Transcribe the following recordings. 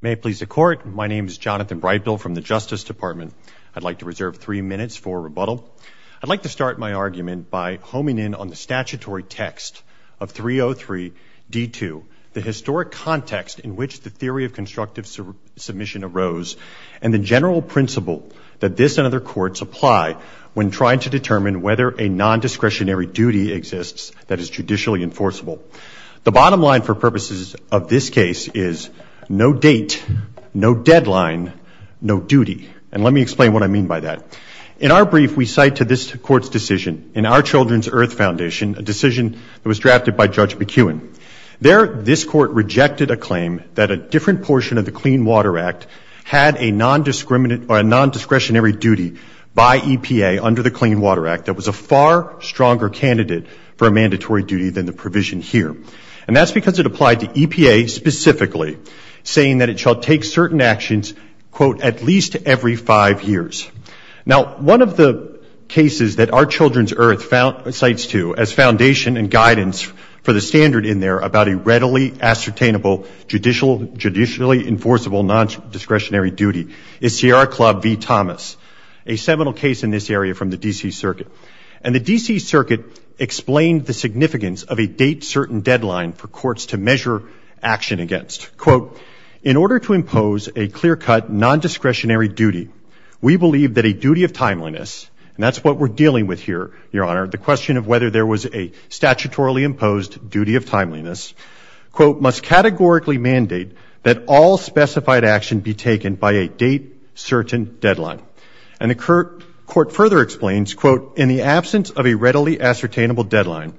May it please the court, my name is Jonathan Breidbill from the Justice Department. I'd like to reserve three minutes for rebuttal. I'd like to start my argument by homing in on the statutory text of 303 D2, the historic context in which the theory of constructive submission arose and the general principle that this and other courts apply when trying to determine whether a non-discretionary duty exists that is judicially enforceable. The No date, no deadline, no duty. And let me explain what I mean by that. In our brief we cite to this court's decision, in our Children's Earth Foundation, a decision that was drafted by Judge McEwen. There, this court rejected a claim that a different portion of the Clean Water Act had a non-discretionary duty by EPA under the Clean Water Act that was a far stronger candidate for a mandatory duty than the provision here. And that's because it states specifically, saying that it shall take certain actions, quote, at least every five years. Now, one of the cases that our Children's Earth cites to as foundation and guidance for the standard in there about a readily ascertainable, judicially enforceable non-discretionary duty is Sierra Club v. Thomas, a seminal case in this area from the D.C. Circuit. And the D.C. Circuit explained the significance of a date-certain deadline for action against, quote, in order to impose a clear-cut, non-discretionary duty, we believe that a duty of timeliness, and that's what we're dealing with here, Your Honor, the question of whether there was a statutorily imposed duty of timeliness, quote, must categorically mandate that all specified action be taken by a date-certain deadline. And the court further explains, quote, in the absence of a readily ascertainable deadline,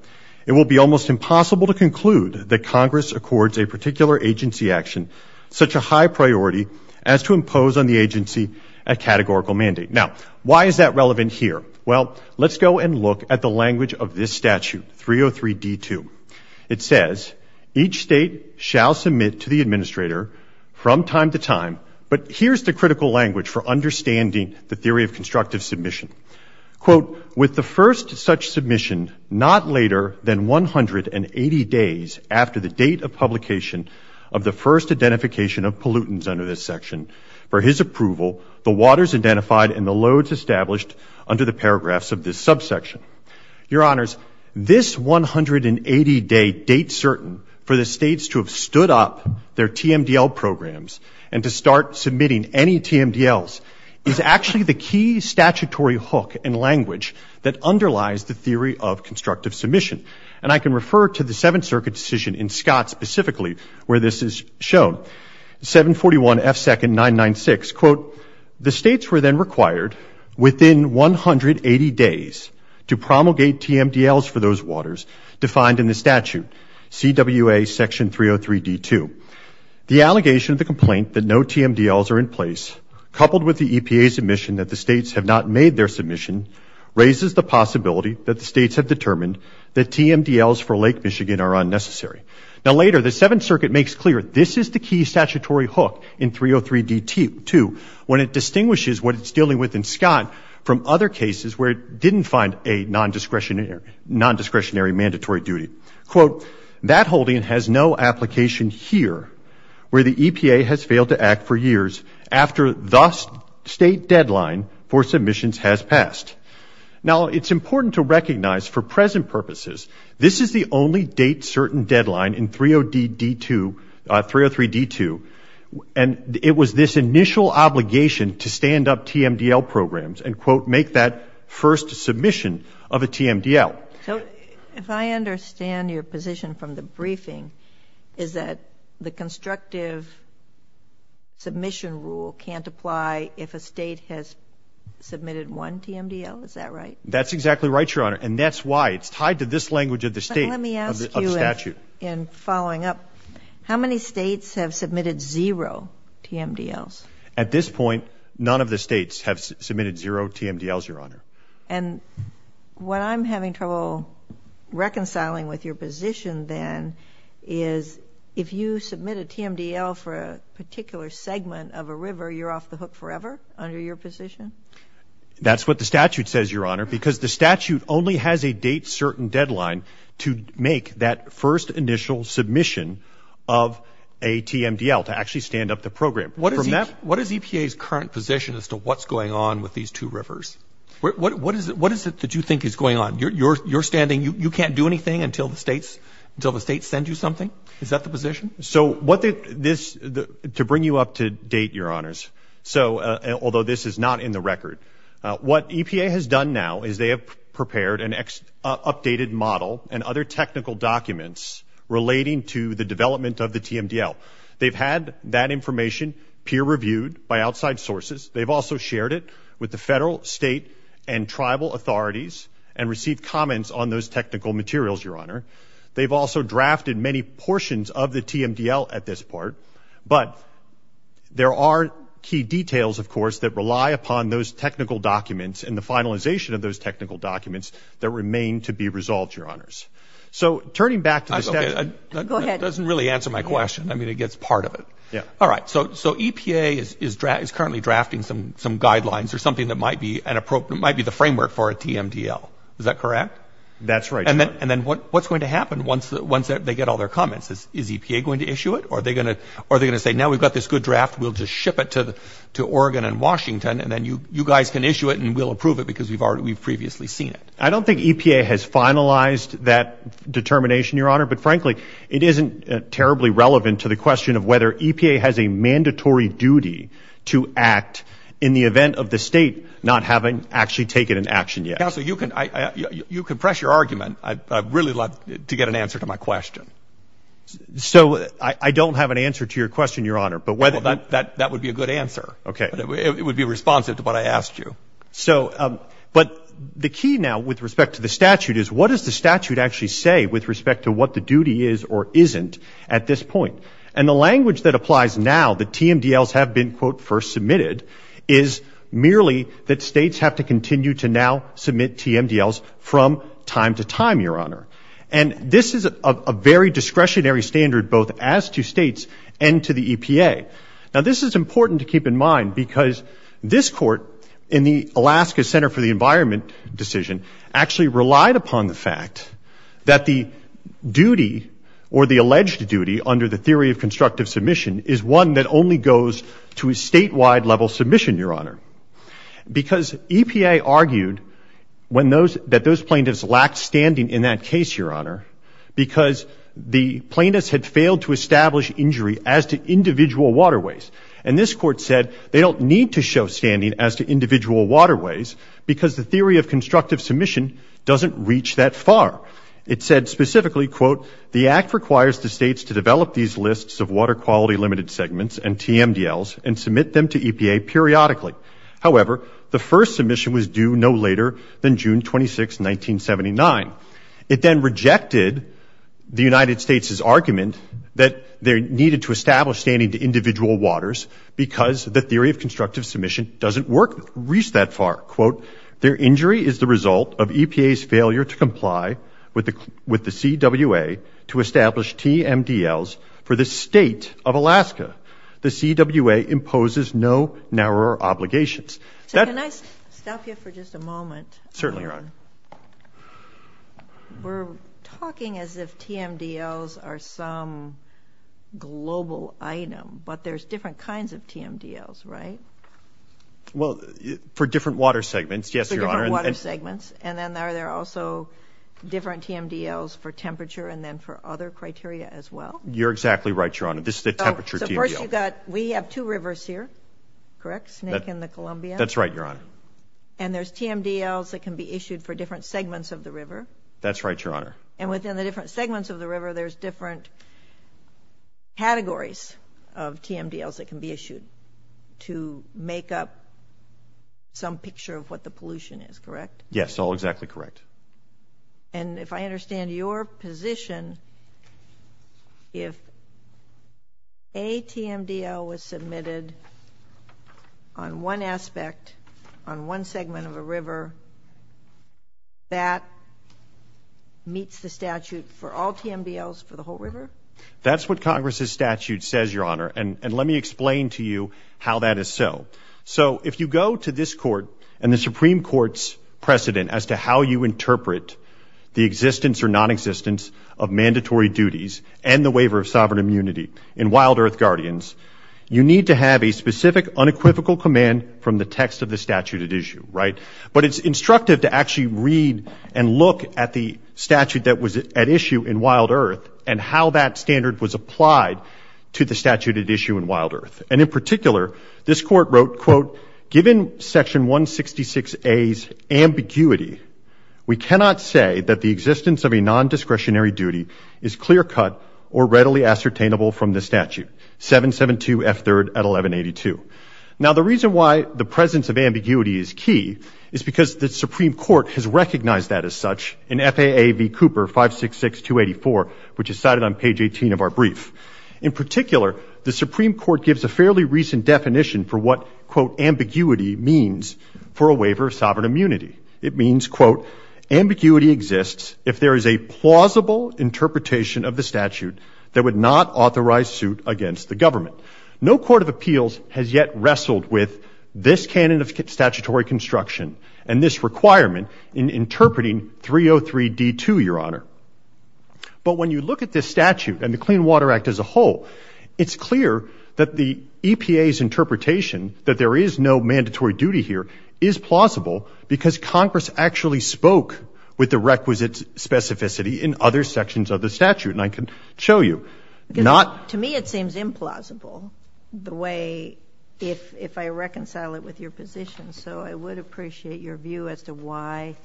it will be almost impossible to conclude that Congress accords a particular agency action such a high priority as to impose on the agency a categorical mandate. Now, why is that relevant here? Well, let's go and look at the language of this statute, 303d2. It says, each state shall submit to the administrator from time to time, but here's the critical language for understanding the theory of constructive submission. Quote, with the first such submission not later than 180 days after the date of publication of the first identification of pollutants under this section. For his approval, the waters identified and the loads established under the paragraphs of this subsection. Your Honors, this 180-day date-certain for the states to have stood up their TMDL programs and to start submitting any TMDLs is actually the key statutory hook and language that underlies the theory of constructive submission. And I can refer to the Seventh Circuit decision in Scott specifically where this is shown, 741 F. 2nd. 996. Quote, the states were then required within 180 days to promulgate TMDLs for those waters defined in the statute, CWA section 303d2. The allegation of the complaint that no TMDLs are in place coupled with the EPA's admission that the states have not made their submission raises the possibility that the states have determined that TMDLs for Lake Michigan are unnecessary. Now later, the Seventh Circuit makes clear this is the key statutory hook in 303d2 when it distinguishes what it's dealing with in Scott from other cases where it didn't find a non-discretionary mandatory duty. Quote, that holding has no to act for years after thus state deadline for submissions has passed. Now it's important to recognize for present purposes, this is the only date certain deadline in 303d2 and it was this initial obligation to stand up TMDL programs and quote, make that first submission of a TMDL. So if I understand your position from the briefing, is that the constructive submission rule can't apply if a state has submitted one TMDL? Is that right? That's exactly right, Your Honor. And that's why it's tied to this language of the state of the statute. Let me ask you in following up, how many states have submitted zero TMDLs? At this point, none of the states have submitted zero TMDLs, Your Honor. And what I'm having trouble reconciling with your position then is if you submit a TMDL for a particular state or segment of a river, you're off the hook forever under your position? That's what the statute says, Your Honor, because the statute only has a date certain deadline to make that first initial submission of a TMDL to actually stand up the program. What is EPA's current position as to what's going on with these two rivers? What is it that you think is going on? You're standing, you can't do anything until the states send you something? Is that the position? So what this to bring you up to date, Your Honors. So although this is not in the record, what EPA has done now is they have prepared an updated model and other technical documents relating to the development of the TMDL. They've had that information peer reviewed by outside sources. They've also shared it with the federal, state and tribal authorities and received comments on those technical materials, Your Honor. They've also drafted many portions of the TMDL at this part, but there are key details, of course, that rely upon those technical documents and the finalization of those technical documents that remain to be resolved, Your Honors. So turning back to the statute. Go ahead. That doesn't really answer my question. I mean, it gets part of it. All right. So EPA is currently drafting some guidelines or something that might be an appropriate, might be the framework for a TMDL. Is that correct? That's right. And then what's going to happen once they get all their comments? Is EPA going to issue it or are they going to say, now we've got this good draft, we'll just ship it to Oregon and Washington and then you guys can issue it and we'll approve it because we've previously seen it? I don't think EPA has finalized that determination, Your Honor. But frankly, it isn't terribly relevant to the question of whether EPA has a mandatory duty to act in the event of the state not having actually taken an action yet. Counsel, you can press your argument. I'd really love to get an answer to my question. So I don't have an answer to your question, Your Honor. Well, that would be a good answer. It would be responsive to what I asked you. But the key now with respect to the statute is, what does the statute actually say with respect to what the duty is or isn't at this point? And the language that applies now, the TMDLs have been, quote, first submitted, is merely that states have to continue to now submit TMDLs from time to time, Your Honor. And this is a very discretionary standard both as to states and to the EPA. Now this is important to keep in mind because this court in the Alaska Center for the Environment Decision actually relied upon the fact that the duty or the alleged duty under the theory of constructive submission is one that only goes to a statewide level submission, Your Honor. Because EPA argued that those plaintiffs lacked standing in that case, Your Honor, because the plaintiffs had failed to establish injury as to individual waterways. And this court said they don't need to show standing as to individual waterways because the theory of constructive submission doesn't reach that far. It said specifically, quote, the act requires the states to develop these lists of water quality limited segments and TMDLs and submit them to EPA periodically. However, the first submission was due no later than June 26, 1979. It then rejected the United States' argument that they needed to establish standing to individual waters because the theory of constructive submission doesn't work, reach that far. Quote, their injury is the result of EPA's failure to comply with the CWA to establish TMDLs for the state of Alaska. The CWA imposes no narrower obligations. So can I stop you for just a moment? Certainly, Your Honor. We're talking as if TMDLs are some global item, but there's different kinds of TMDLs, right? Well, for different water segments, yes, Your Honor. For different water segments, and then are there also different TMDLs for temperature and then for other criteria as well? You're exactly right, Your Honor. This is a temperature TMDL. So first you've got, we have two rivers here, correct? Snake and the Columbia? That's right, Your Honor. And there's TMDLs that can be issued for different segments of the river? That's right, Your Honor. And within the different segments of the river, there's different categories of TMDLs that can be issued to make up some picture of what the pollution is, correct? Yes, all exactly correct. And if I understand your position, if a TMDL was submitted on one aspect, on one segment of a river, that meets the statute for all TMDLs for the whole river? That's what Congress's statute says, Your Honor, and let me explain to you how that is so. So if you go to this court and the Supreme Court's precedent as to how you interpret the existence or nonexistence of mandatory duties and the waiver of sovereign immunity in Wild Earth Guardians, you need to have a specific unequivocal command from the text of the statute at issue, right? But it's instructive to actually read and look at the statute that was at issue in Wild Earth, and how that standard was applied to the statute at issue in Wild Earth. And in particular, this court wrote, quote, given Section 166A's ambiguity, we cannot say that the existence of a nondiscretionary duty is clear-cut or readily ascertainable from the statute, 772F3 at 1182. Now the reason why the presence of ambiguity is key is because the Supreme Court has recognized that as such in FAA v. Cooper 566284, which is cited on page 18 of our brief. In particular, the Supreme Court gives a fairly recent definition for what, quote, ambiguity means for a waiver of sovereign immunity. It means, quote, ambiguity exists if there is a plausible interpretation of the statute that would not authorize suit against the government. No court of appeals has yet wrestled with this canon of statutory construction and this wording, 303D2, Your Honor. But when you look at this statute and the Clean Water Act as a whole, it's clear that the EPA's interpretation that there is no mandatory duty here is plausible because Congress actually spoke with the requisite specificity in other sections of the statute, and I can show you. To me, it seems implausible the way, if I reconcile it with your position, so I would appreciate your view as to why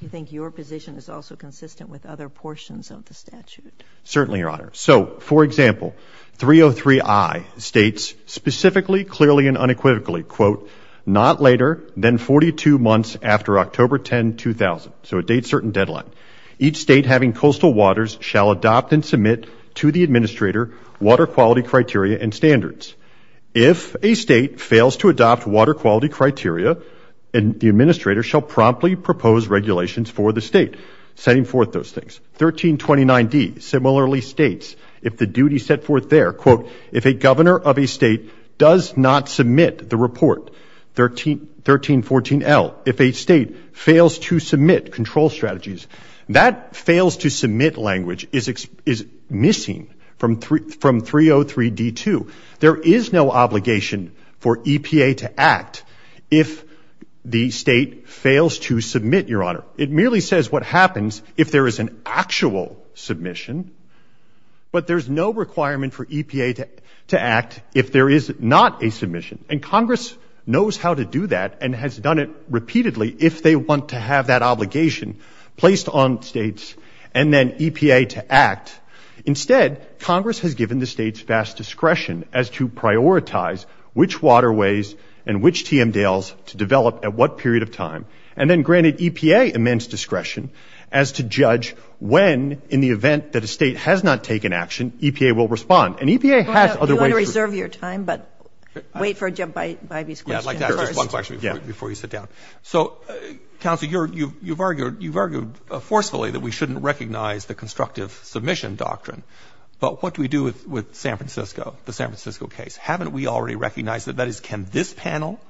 you think your position is also consistent with other portions of the statute. Certainly, Your Honor. So, for example, 303I states specifically, clearly, and unequivocally, quote, not later than 42 months after October 10, 2000, so a date certain deadline, each state having coastal waters shall adopt and submit to the administrator water quality criteria and standards. If a state fails to adopt water quality criteria, the administrator shall promptly propose regulations for the state setting forth those things. 1329D similarly states, if the duty set forth there, quote, if a governor of a state does not submit the report, 1314L, if a state fails to submit control strategies, that fails to submit language is missing from 303D2. There is no obligation for EPA to act if the state fails to submit, Your Honor. It merely says what happens if there is an actual submission, but there's no requirement for EPA to act if there is not a submission, and Congress knows how to do that and has done it repeatedly if they want to have that obligation placed on states and then EPA to act. Instead, Congress has given the states vast discretion as to prioritize which waterways and which TMDALs to develop at what period of time, and then granted EPA immense discretion as to judge when, in the event that a state has not taken action, EPA will respond, and EPA has other ways. Do you want to reserve your time, but wait for Jeff Bivey's question first? Yeah, I'd like to ask just one question before you sit down. So, counsel, you've argued forcefully that we shouldn't recognize the constructive submission doctrine, but what do we do with San Francisco, the San Francisco case? Haven't we already recognized that? That is, can this panel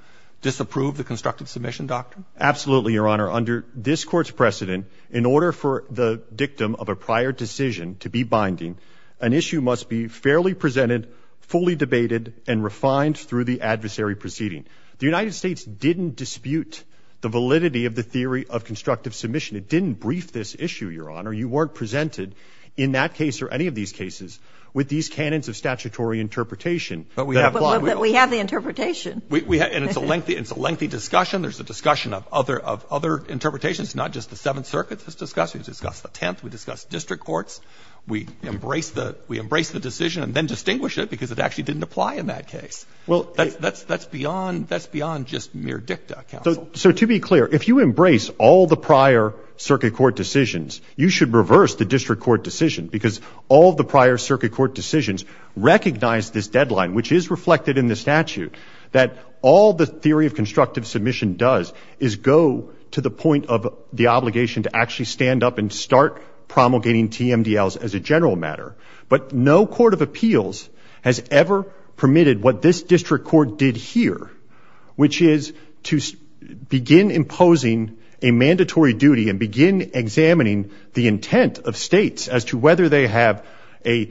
disapprove the constructive submission doctrine? Absolutely, Your Honor. Under this Court's precedent, in order for the dictum of a prior decision to be binding, an issue must be fairly presented, fully debated, and refined through the adversary proceeding. The United States didn't dispute the validity of the theory of constructive submission. It didn't brief this issue, Your Honor. You weren't presented, in that case or any of these cases, with these canons of statutory interpretation that apply. But we have the interpretation. And it's a lengthy discussion. There's a discussion of other interpretations, not just the Seventh Circuit that's discussed. We discussed the Tenth. We discussed district courts. We embraced the decision and then distinguished it because it actually didn't apply in that case. Well, that's beyond just mere dicta, counsel. So to be clear, if you embrace all the prior circuit court decisions, you should reverse the district court decision because all the prior circuit court decisions recognize this deadline, which is reflected in the statute, that all the theory of constructive submission does is go to the point of the obligation to actually stand up and start promulgating TMDLs as a general matter. But no court of appeals has ever permitted what this district court did here, which is to begin imposing a mandatory duty and begin examining the intent of states as to whether they have a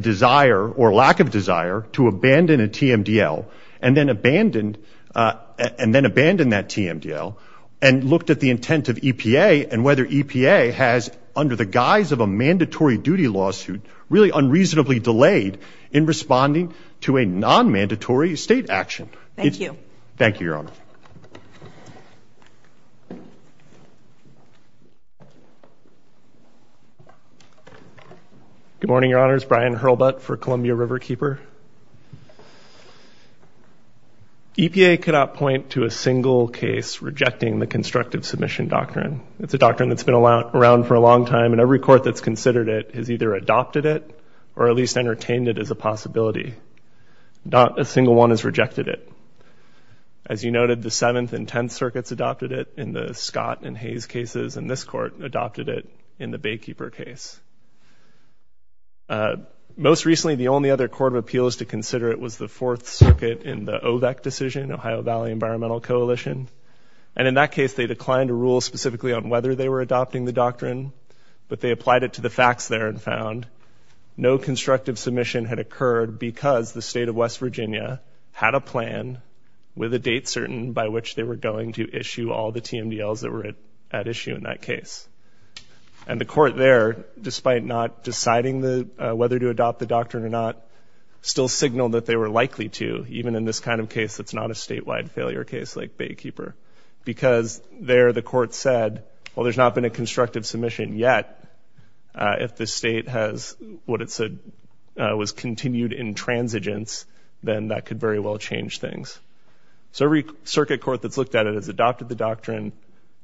desire or lack of desire to abandon a TMDL and then abandon that TMDL and looked at the intent of EPA and whether EPA has, under the guise of a mandatory duty lawsuit, really unreasonably delayed in responding to a non-mandatory state action. Thank you. Thank you, Your Honor. Good morning, Your Honors. Brian Hurlbut for Columbia Riverkeeper. EPA could not point to a single case rejecting the constructive submission doctrine. It's a doctrine that's been around for a long time, and every court that's considered it has either adopted it or at least entertained it as a possibility. Not a single one has rejected it. As you noted, the Seventh and Tenth Circuits adopted it in the Scott and Hayes cases, and this court adopted it in the Baykeeper case. Most recently, the only other court of appeals to consider it was the Fourth Circuit in the OVEC decision, Ohio Valley Environmental Coalition, and in that case, they declined to rule specifically on whether they were adopting the doctrine, but they applied it to the facts there and found no constructive submission had occurred because the state of West Virginia had a plan with a date certain by which they were going to issue all the TMDLs that were at issue in that case. And the court there, despite not deciding whether to adopt the doctrine or not, still signaled that they were likely to, even in this kind of case that's not a statewide failure case like Baykeeper, because there the court said, well, there's not been a constructive submission yet. If the state has what it said was continued intransigence, then that could very well change things. So every circuit court that's looked at it has adopted the doctrine,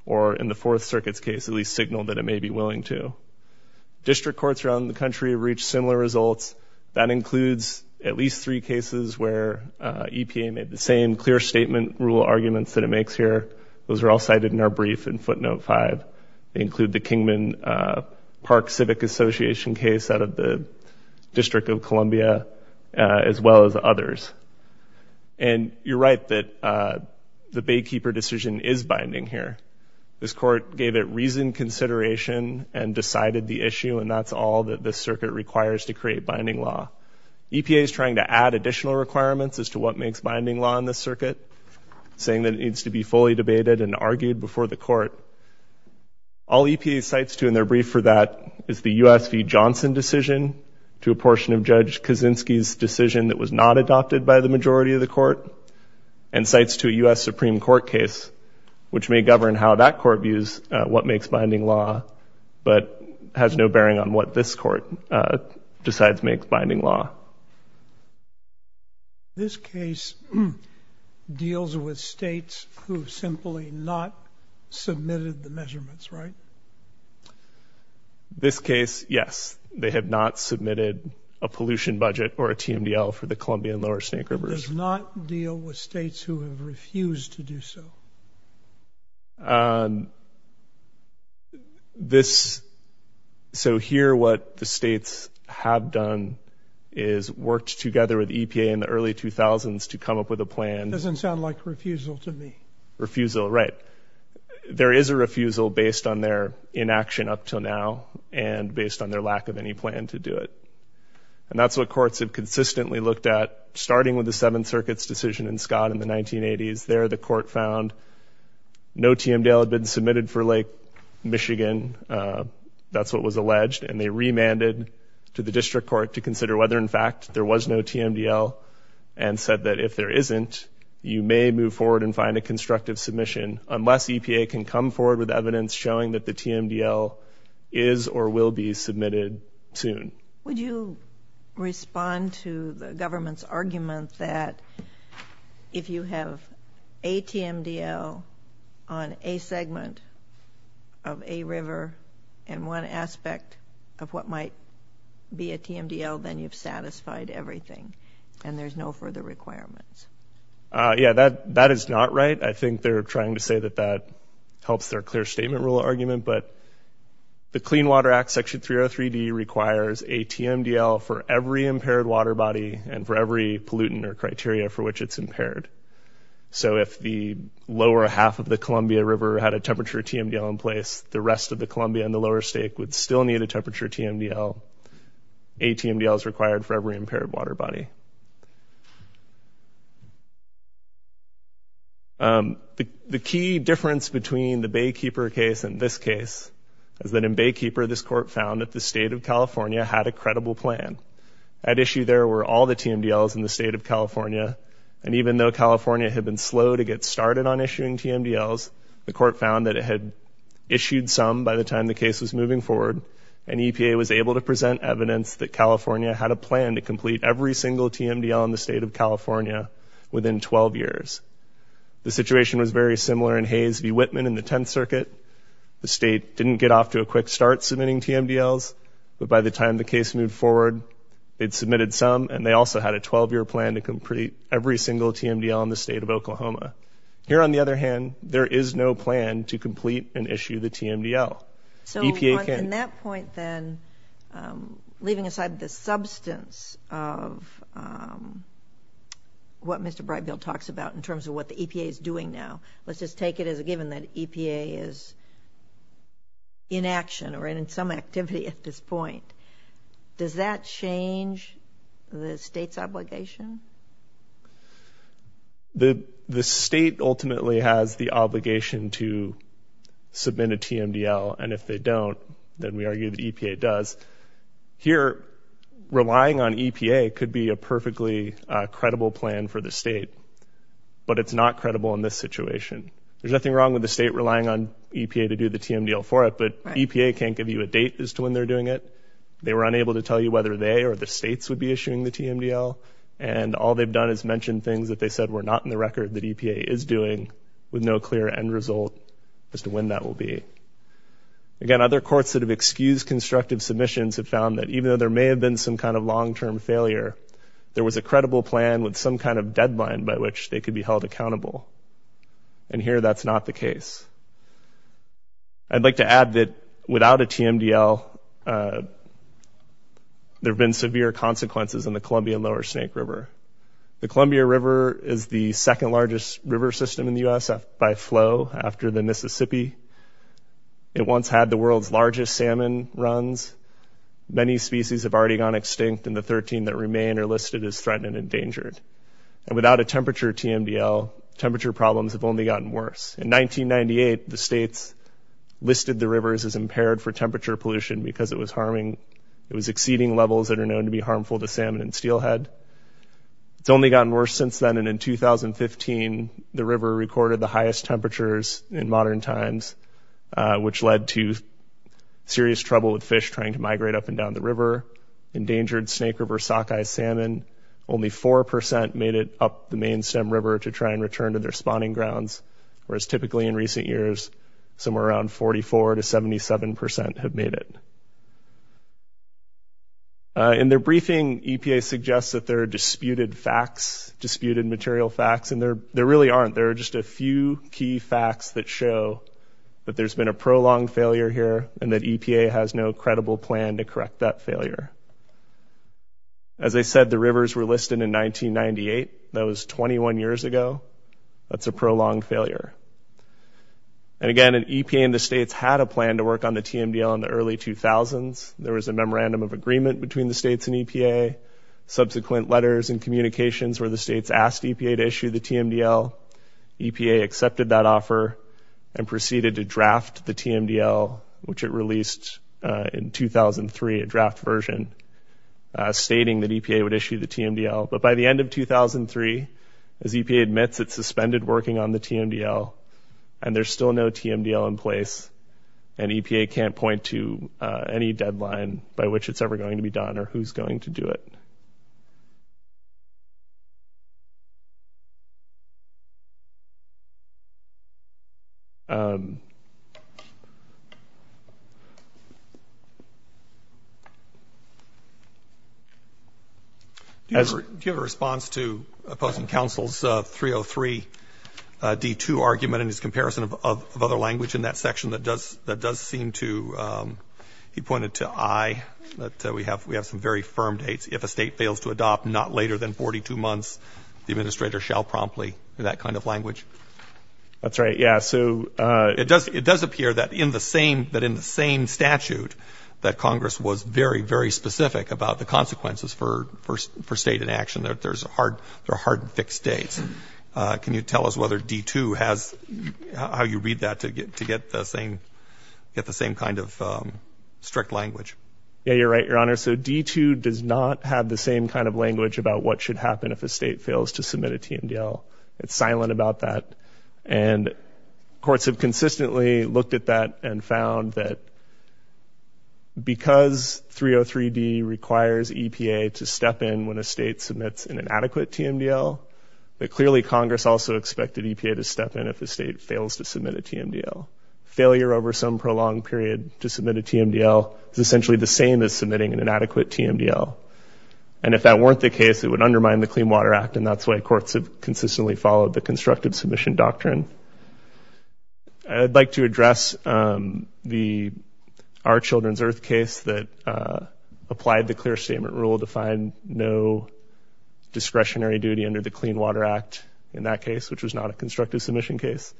or in the Fourth Circuit's case, at least signaled that it may be willing to. District courts around the country have reached similar results. That includes at least three cases where EPA made the same clear statement rule arguments that it makes here. Those are all cited in our brief in footnote five. They include the Kingman Park Civic Association case out of the District of Columbia, as well as others. And you're right that the Baykeeper decision is binding here. This court gave it reasoned consideration and decided the issue, and that's all that this circuit requires to create binding law. EPA is trying to add additional requirements as to what makes binding law in this circuit, saying that it needs to be fully debated and argued before the court. All EPA cites to in their brief for that is the US v. Johnson decision to a portion of Judge Kaczynski's decision that was not adopted by the majority of the court, and cites to the US Supreme Court case, which may govern how that court views what makes binding law, but has no bearing on what this court decides makes binding law. This case deals with states who simply not submitted the measurements, right? This case, yes. They have not submitted a pollution budget or a TMDL for the Columbia and Lower Snake Rivers. It does not deal with states who have refused to do so? So here what the states have done is worked together with EPA in the early 2000s to come up with a plan. Doesn't sound like refusal to me. Refusal, right. There is a refusal based on their inaction up till now, and based on their lack of any plan to do it. And that's what courts have consistently looked at starting with the Seventh Circuit's decision in Scott in the 1980s. There the court found no TMDL had been submitted for Lake Michigan. That's what was alleged. And they remanded to the district court to consider whether in fact there was no TMDL and said that if there isn't, you may move forward and find a constructive submission unless EPA can come forward with evidence showing that the TMDL is or will be submitted soon. Would you respond to the government's argument that if you have a TMDL on a segment of a river and one aspect of what might be a TMDL, then you've satisfied everything and there's no further requirements? Yeah, that is not right. I think they're trying to say that that helps their clear statement rule argument. But the Clean Water Act, Section 303D, requires a TMDL for every impaired water body and for every pollutant or criteria for which it's impaired. So if the lower half of the Columbia River had a temperature TMDL in place, the rest of the Columbia and the lower stake would still need a temperature TMDL. A TMDL is required for every impaired water body. The key difference between the Baykeeper case and this case is that in Baykeeper, this court found that the state of California had a credible plan. At issue there were all the TMDLs in the state of California. And even though California had been slow to get started on issuing TMDLs, the court found that it had issued some by the time the case was moving forward and EPA was able to present a single TMDL in the state of California within 12 years. The situation was very similar in Hayes v. Whitman in the 10th Circuit. The state didn't get off to a quick start submitting TMDLs, but by the time the case moved forward, it submitted some and they also had a 12-year plan to complete every single TMDL in the state of Oklahoma. Here on the other hand, there is no plan to complete and issue the TMDL. So in that point then, leaving aside the substance of what Mr. Brightfield talks about in terms of what the EPA is doing now, let's just take it as a given that EPA is in action or in some activity at this point. Does that change the state's obligation? The state ultimately has the obligation to submit a TMDL, and if they don't, then we argue that EPA does. Here, relying on EPA could be a perfectly credible plan for the state, but it's not credible in this situation. There's nothing wrong with the state relying on EPA to do the TMDL for it, but EPA can't give you a date as to when they're doing it. They were unable to tell you whether they or the states would be issuing the TMDL, and all they've done is mention things that they said were not in the record that EPA is doing with no clear end result as to when that will be. Again, other courts that have excused constructive submissions have found that even though there may have been some kind of long-term failure, there was a credible plan with some kind of deadline by which they could be held accountable. And here, that's not the case. I'd like to add that without a TMDL, there have been severe consequences in the Columbian Lower Snake River. The Columbia River is the second-largest river system in the U.S. by flow after the Mississippi. It once had the world's largest salmon runs. Many species have already gone extinct, and the 13 that remain are listed as threatened and endangered. And without a temperature TMDL, temperature problems have only gotten worse. In 1998, the states listed the rivers as impaired for temperature pollution because it was harming It was exceeding levels that are known to be harmful to salmon and steelhead. It's only gotten worse since then, and in 2015, the river recorded the highest temperatures in modern times, which led to serious trouble with fish trying to migrate up and down the river. Endangered Snake River sockeye salmon, only 4% made it up the main stem river to try and return to their spawning grounds, whereas typically in recent years, somewhere around 44% to 77% have made it. In their briefing, EPA suggests that there are disputed facts, disputed material facts, and there really aren't. There are just a few key facts that show that there's been a prolonged failure here and that EPA has no credible plan to correct that failure. As I said, the rivers were listed in 1998. That was 21 years ago. That's a prolonged failure. And again, EPA and the states had a plan to work on the TMDL in the early 2000s. There was a memorandum of agreement between the states and EPA. Subsequent letters and communications where the states asked EPA to issue the TMDL, EPA accepted that offer and proceeded to draft the TMDL, which it released in 2003, a draft version, stating that EPA would issue the TMDL. But by the end of 2003, as EPA admits, it suspended working on the TMDL, and there's still no TMDL in place, and EPA can't point to any deadline by which it's ever going to be done or who's going to do it. Do you have a response to opposing counsel's 303-D2 argument and his comparison of other language in that section that does seem to – he pointed to I, that we have some very strict language. It does appear that in the same statute that Congress was very, very specific about the consequences for state inaction. There's a hard – they're hard fixed dates. Can you tell us whether D2 has – how you read that to get the same kind of strict language? Yeah, you're right, Your Honor. So D2 does not have the same kind of language about what should happen if a state fails to submit a TMDL. It's silent about that. And courts have consistently looked at that and found that because 303-D requires EPA to step in when a state submits an inadequate TMDL, that clearly Congress also expected EPA to step in if a state fails to submit a TMDL. Failure over some prolonged period to submit a TMDL is essentially the same as submitting an inadequate TMDL. And if that weren't the case, it would undermine the Clean Water Act, and that's why courts have consistently followed the constructive submission doctrine. I'd like to address the – our children's earth case that applied the clear statement rule to find no discretionary duty under the Clean Water Act in that case, which was not a constructive submission case.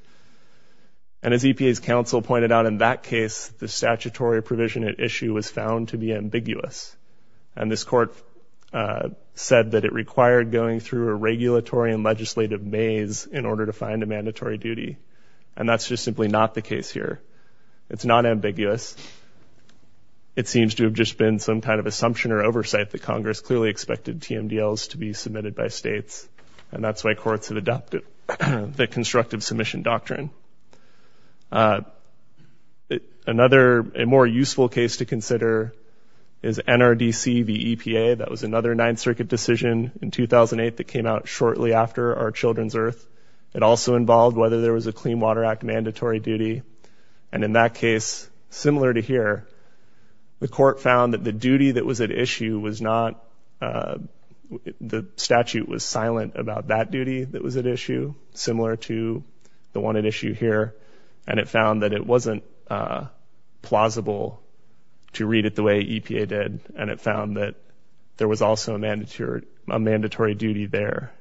And as EPA's counsel pointed out in that case, the statutory provision at issue was to be ambiguous, and this court said that it required going through a regulatory and legislative maze in order to find a mandatory duty, and that's just simply not the case here. It's not ambiguous. It seems to have just been some kind of assumption or oversight that Congress clearly expected TMDLs to be submitted by states, and that's why courts have adopted the constructive submission doctrine. Another – a more useful case to consider is NRDC v. EPA. That was another Ninth Circuit decision in 2008 that came out shortly after our children's earth. It also involved whether there was a Clean Water Act mandatory duty. And in that case, similar to here, the court found that the duty that was at issue was not – the statute was silent about that duty that was at issue, similar to the one at issue here, and it found that it wasn't plausible to read it the way EPA did, and it found that there was also a mandatory duty there.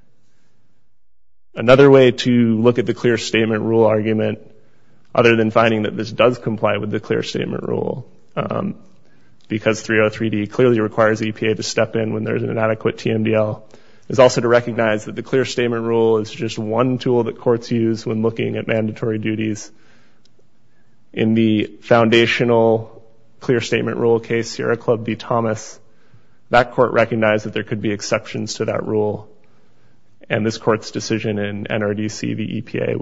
Another way to look at the clear statement rule argument, other than finding that this does comply with the clear statement rule, because 303D clearly requires EPA to step in when there's an inadequate TMDL, is also to recognize that the clear statement rule is just one tool that courts use when looking at mandatory duties. In the foundational clear statement rule case, Sierra Club v. Thomas, that court recognized that there could be exceptions to that rule, and this court's decision in NRDC v. EPA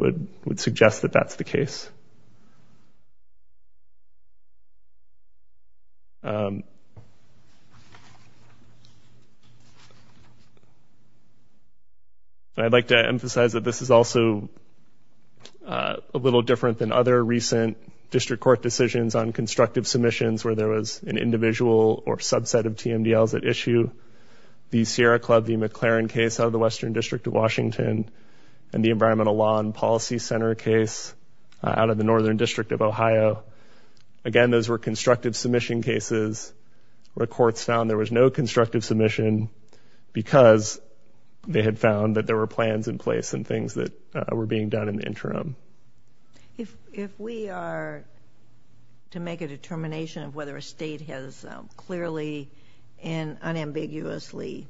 I'd like to emphasize that this is also a little different than other recent district court decisions on constructive submissions where there was an individual or subset of TMDLs at issue. The Sierra Club v. McLaren case out of the Western District of Washington and the Environmental Law and Policy Center case out of the Northern District of Ohio, again, those were constructive submission cases where courts found there was no constructive submission because they had found that there were plans in place and things that were being done in the interim. If we are to make a determination of whether a state has clearly and unambiguously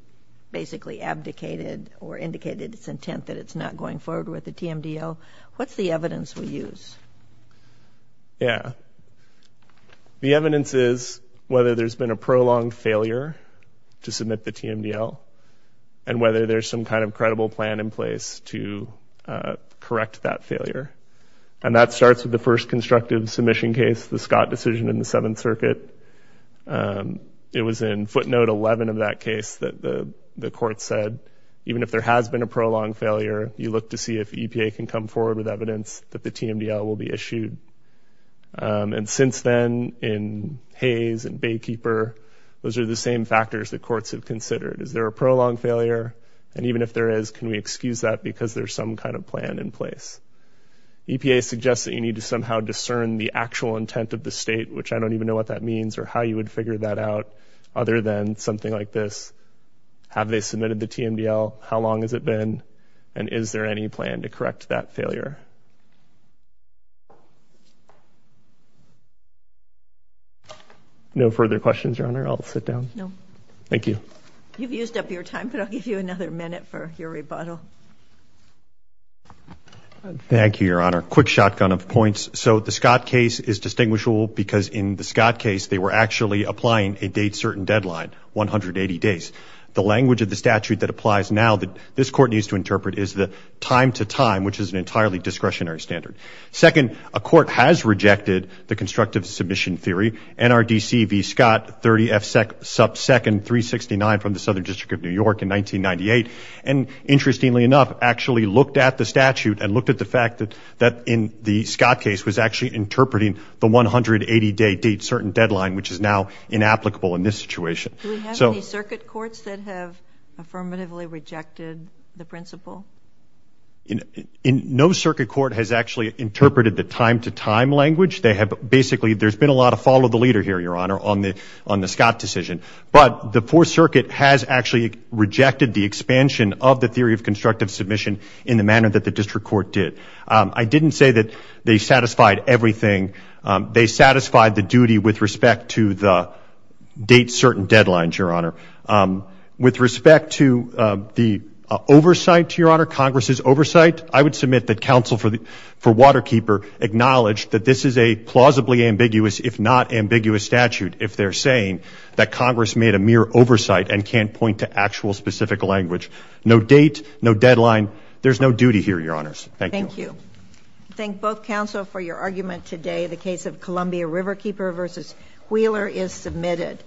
basically abdicated or indicated its intent that it's not going forward with the TMDL, what's the evidence we use? Yeah. The evidence is whether there's been a prolonged failure to submit the TMDL and whether there's some kind of credible plan in place to correct that failure. And that starts with the first constructive submission case, the Scott decision in the Seventh Circuit. It was in footnote 11 of that case that the court said, even if there has been a prolonged failure, you look to see if EPA can come forward with evidence that the TMDL will be issued. And since then, in Hayes and Baykeeper, those are the same factors that courts have considered. Is there a prolonged failure? And even if there is, can we excuse that because there's some kind of plan in place? EPA suggests that you need to somehow discern the actual intent of the state, which I don't even know what that means, or how you would figure that out other than something like this. Have they submitted the TMDL? How long has it been? And is there any plan to correct that failure? No further questions, Your Honor. I'll sit down. No. Thank you. You've used up your time, but I'll give you another minute for your rebuttal. Thank you, Your Honor. Quick shotgun of points. So the Scott case is distinguishable because in the Scott case, they were actually applying a date-certain deadline, 180 days. The language of the statute that applies now that this Court needs to interpret is the time-to-time, which is an entirely discretionary standard. Second, a court has rejected the constructive submission theory, NRDC v. Scott, 30 F sub 2nd 369 from the Southern District of New York in 1998, and interestingly enough, actually looked at the statute and looked at the fact that in the Scott case was actually interpreting the 180-day date-certain deadline, which is now inapplicable in this situation. Do we have any circuit courts that have affirmatively rejected the principle? No circuit court has actually interpreted the time-to-time language. There's been a lot of follow-the-leader here, Your Honor, on the Scott decision. But the Fourth Circuit has actually rejected the expansion of the theory of constructive submission in the manner that the district court did. I didn't say that they satisfied everything. They satisfied the duty with respect to the date-certain deadlines, Your Honor. With respect to the oversight, Your Honor, Congress's oversight, I would submit that counsel for Waterkeeper acknowledged that this is a plausibly ambiguous, if not ambiguous, statute if they're saying that Congress made a mere oversight and can't point to actual specific language. No date, no deadline, there's no duty here, Your Honors. Thank you. Thank you. Thank both counsel for your argument today. The case of Columbia Riverkeeper v. Wheeler is submitted.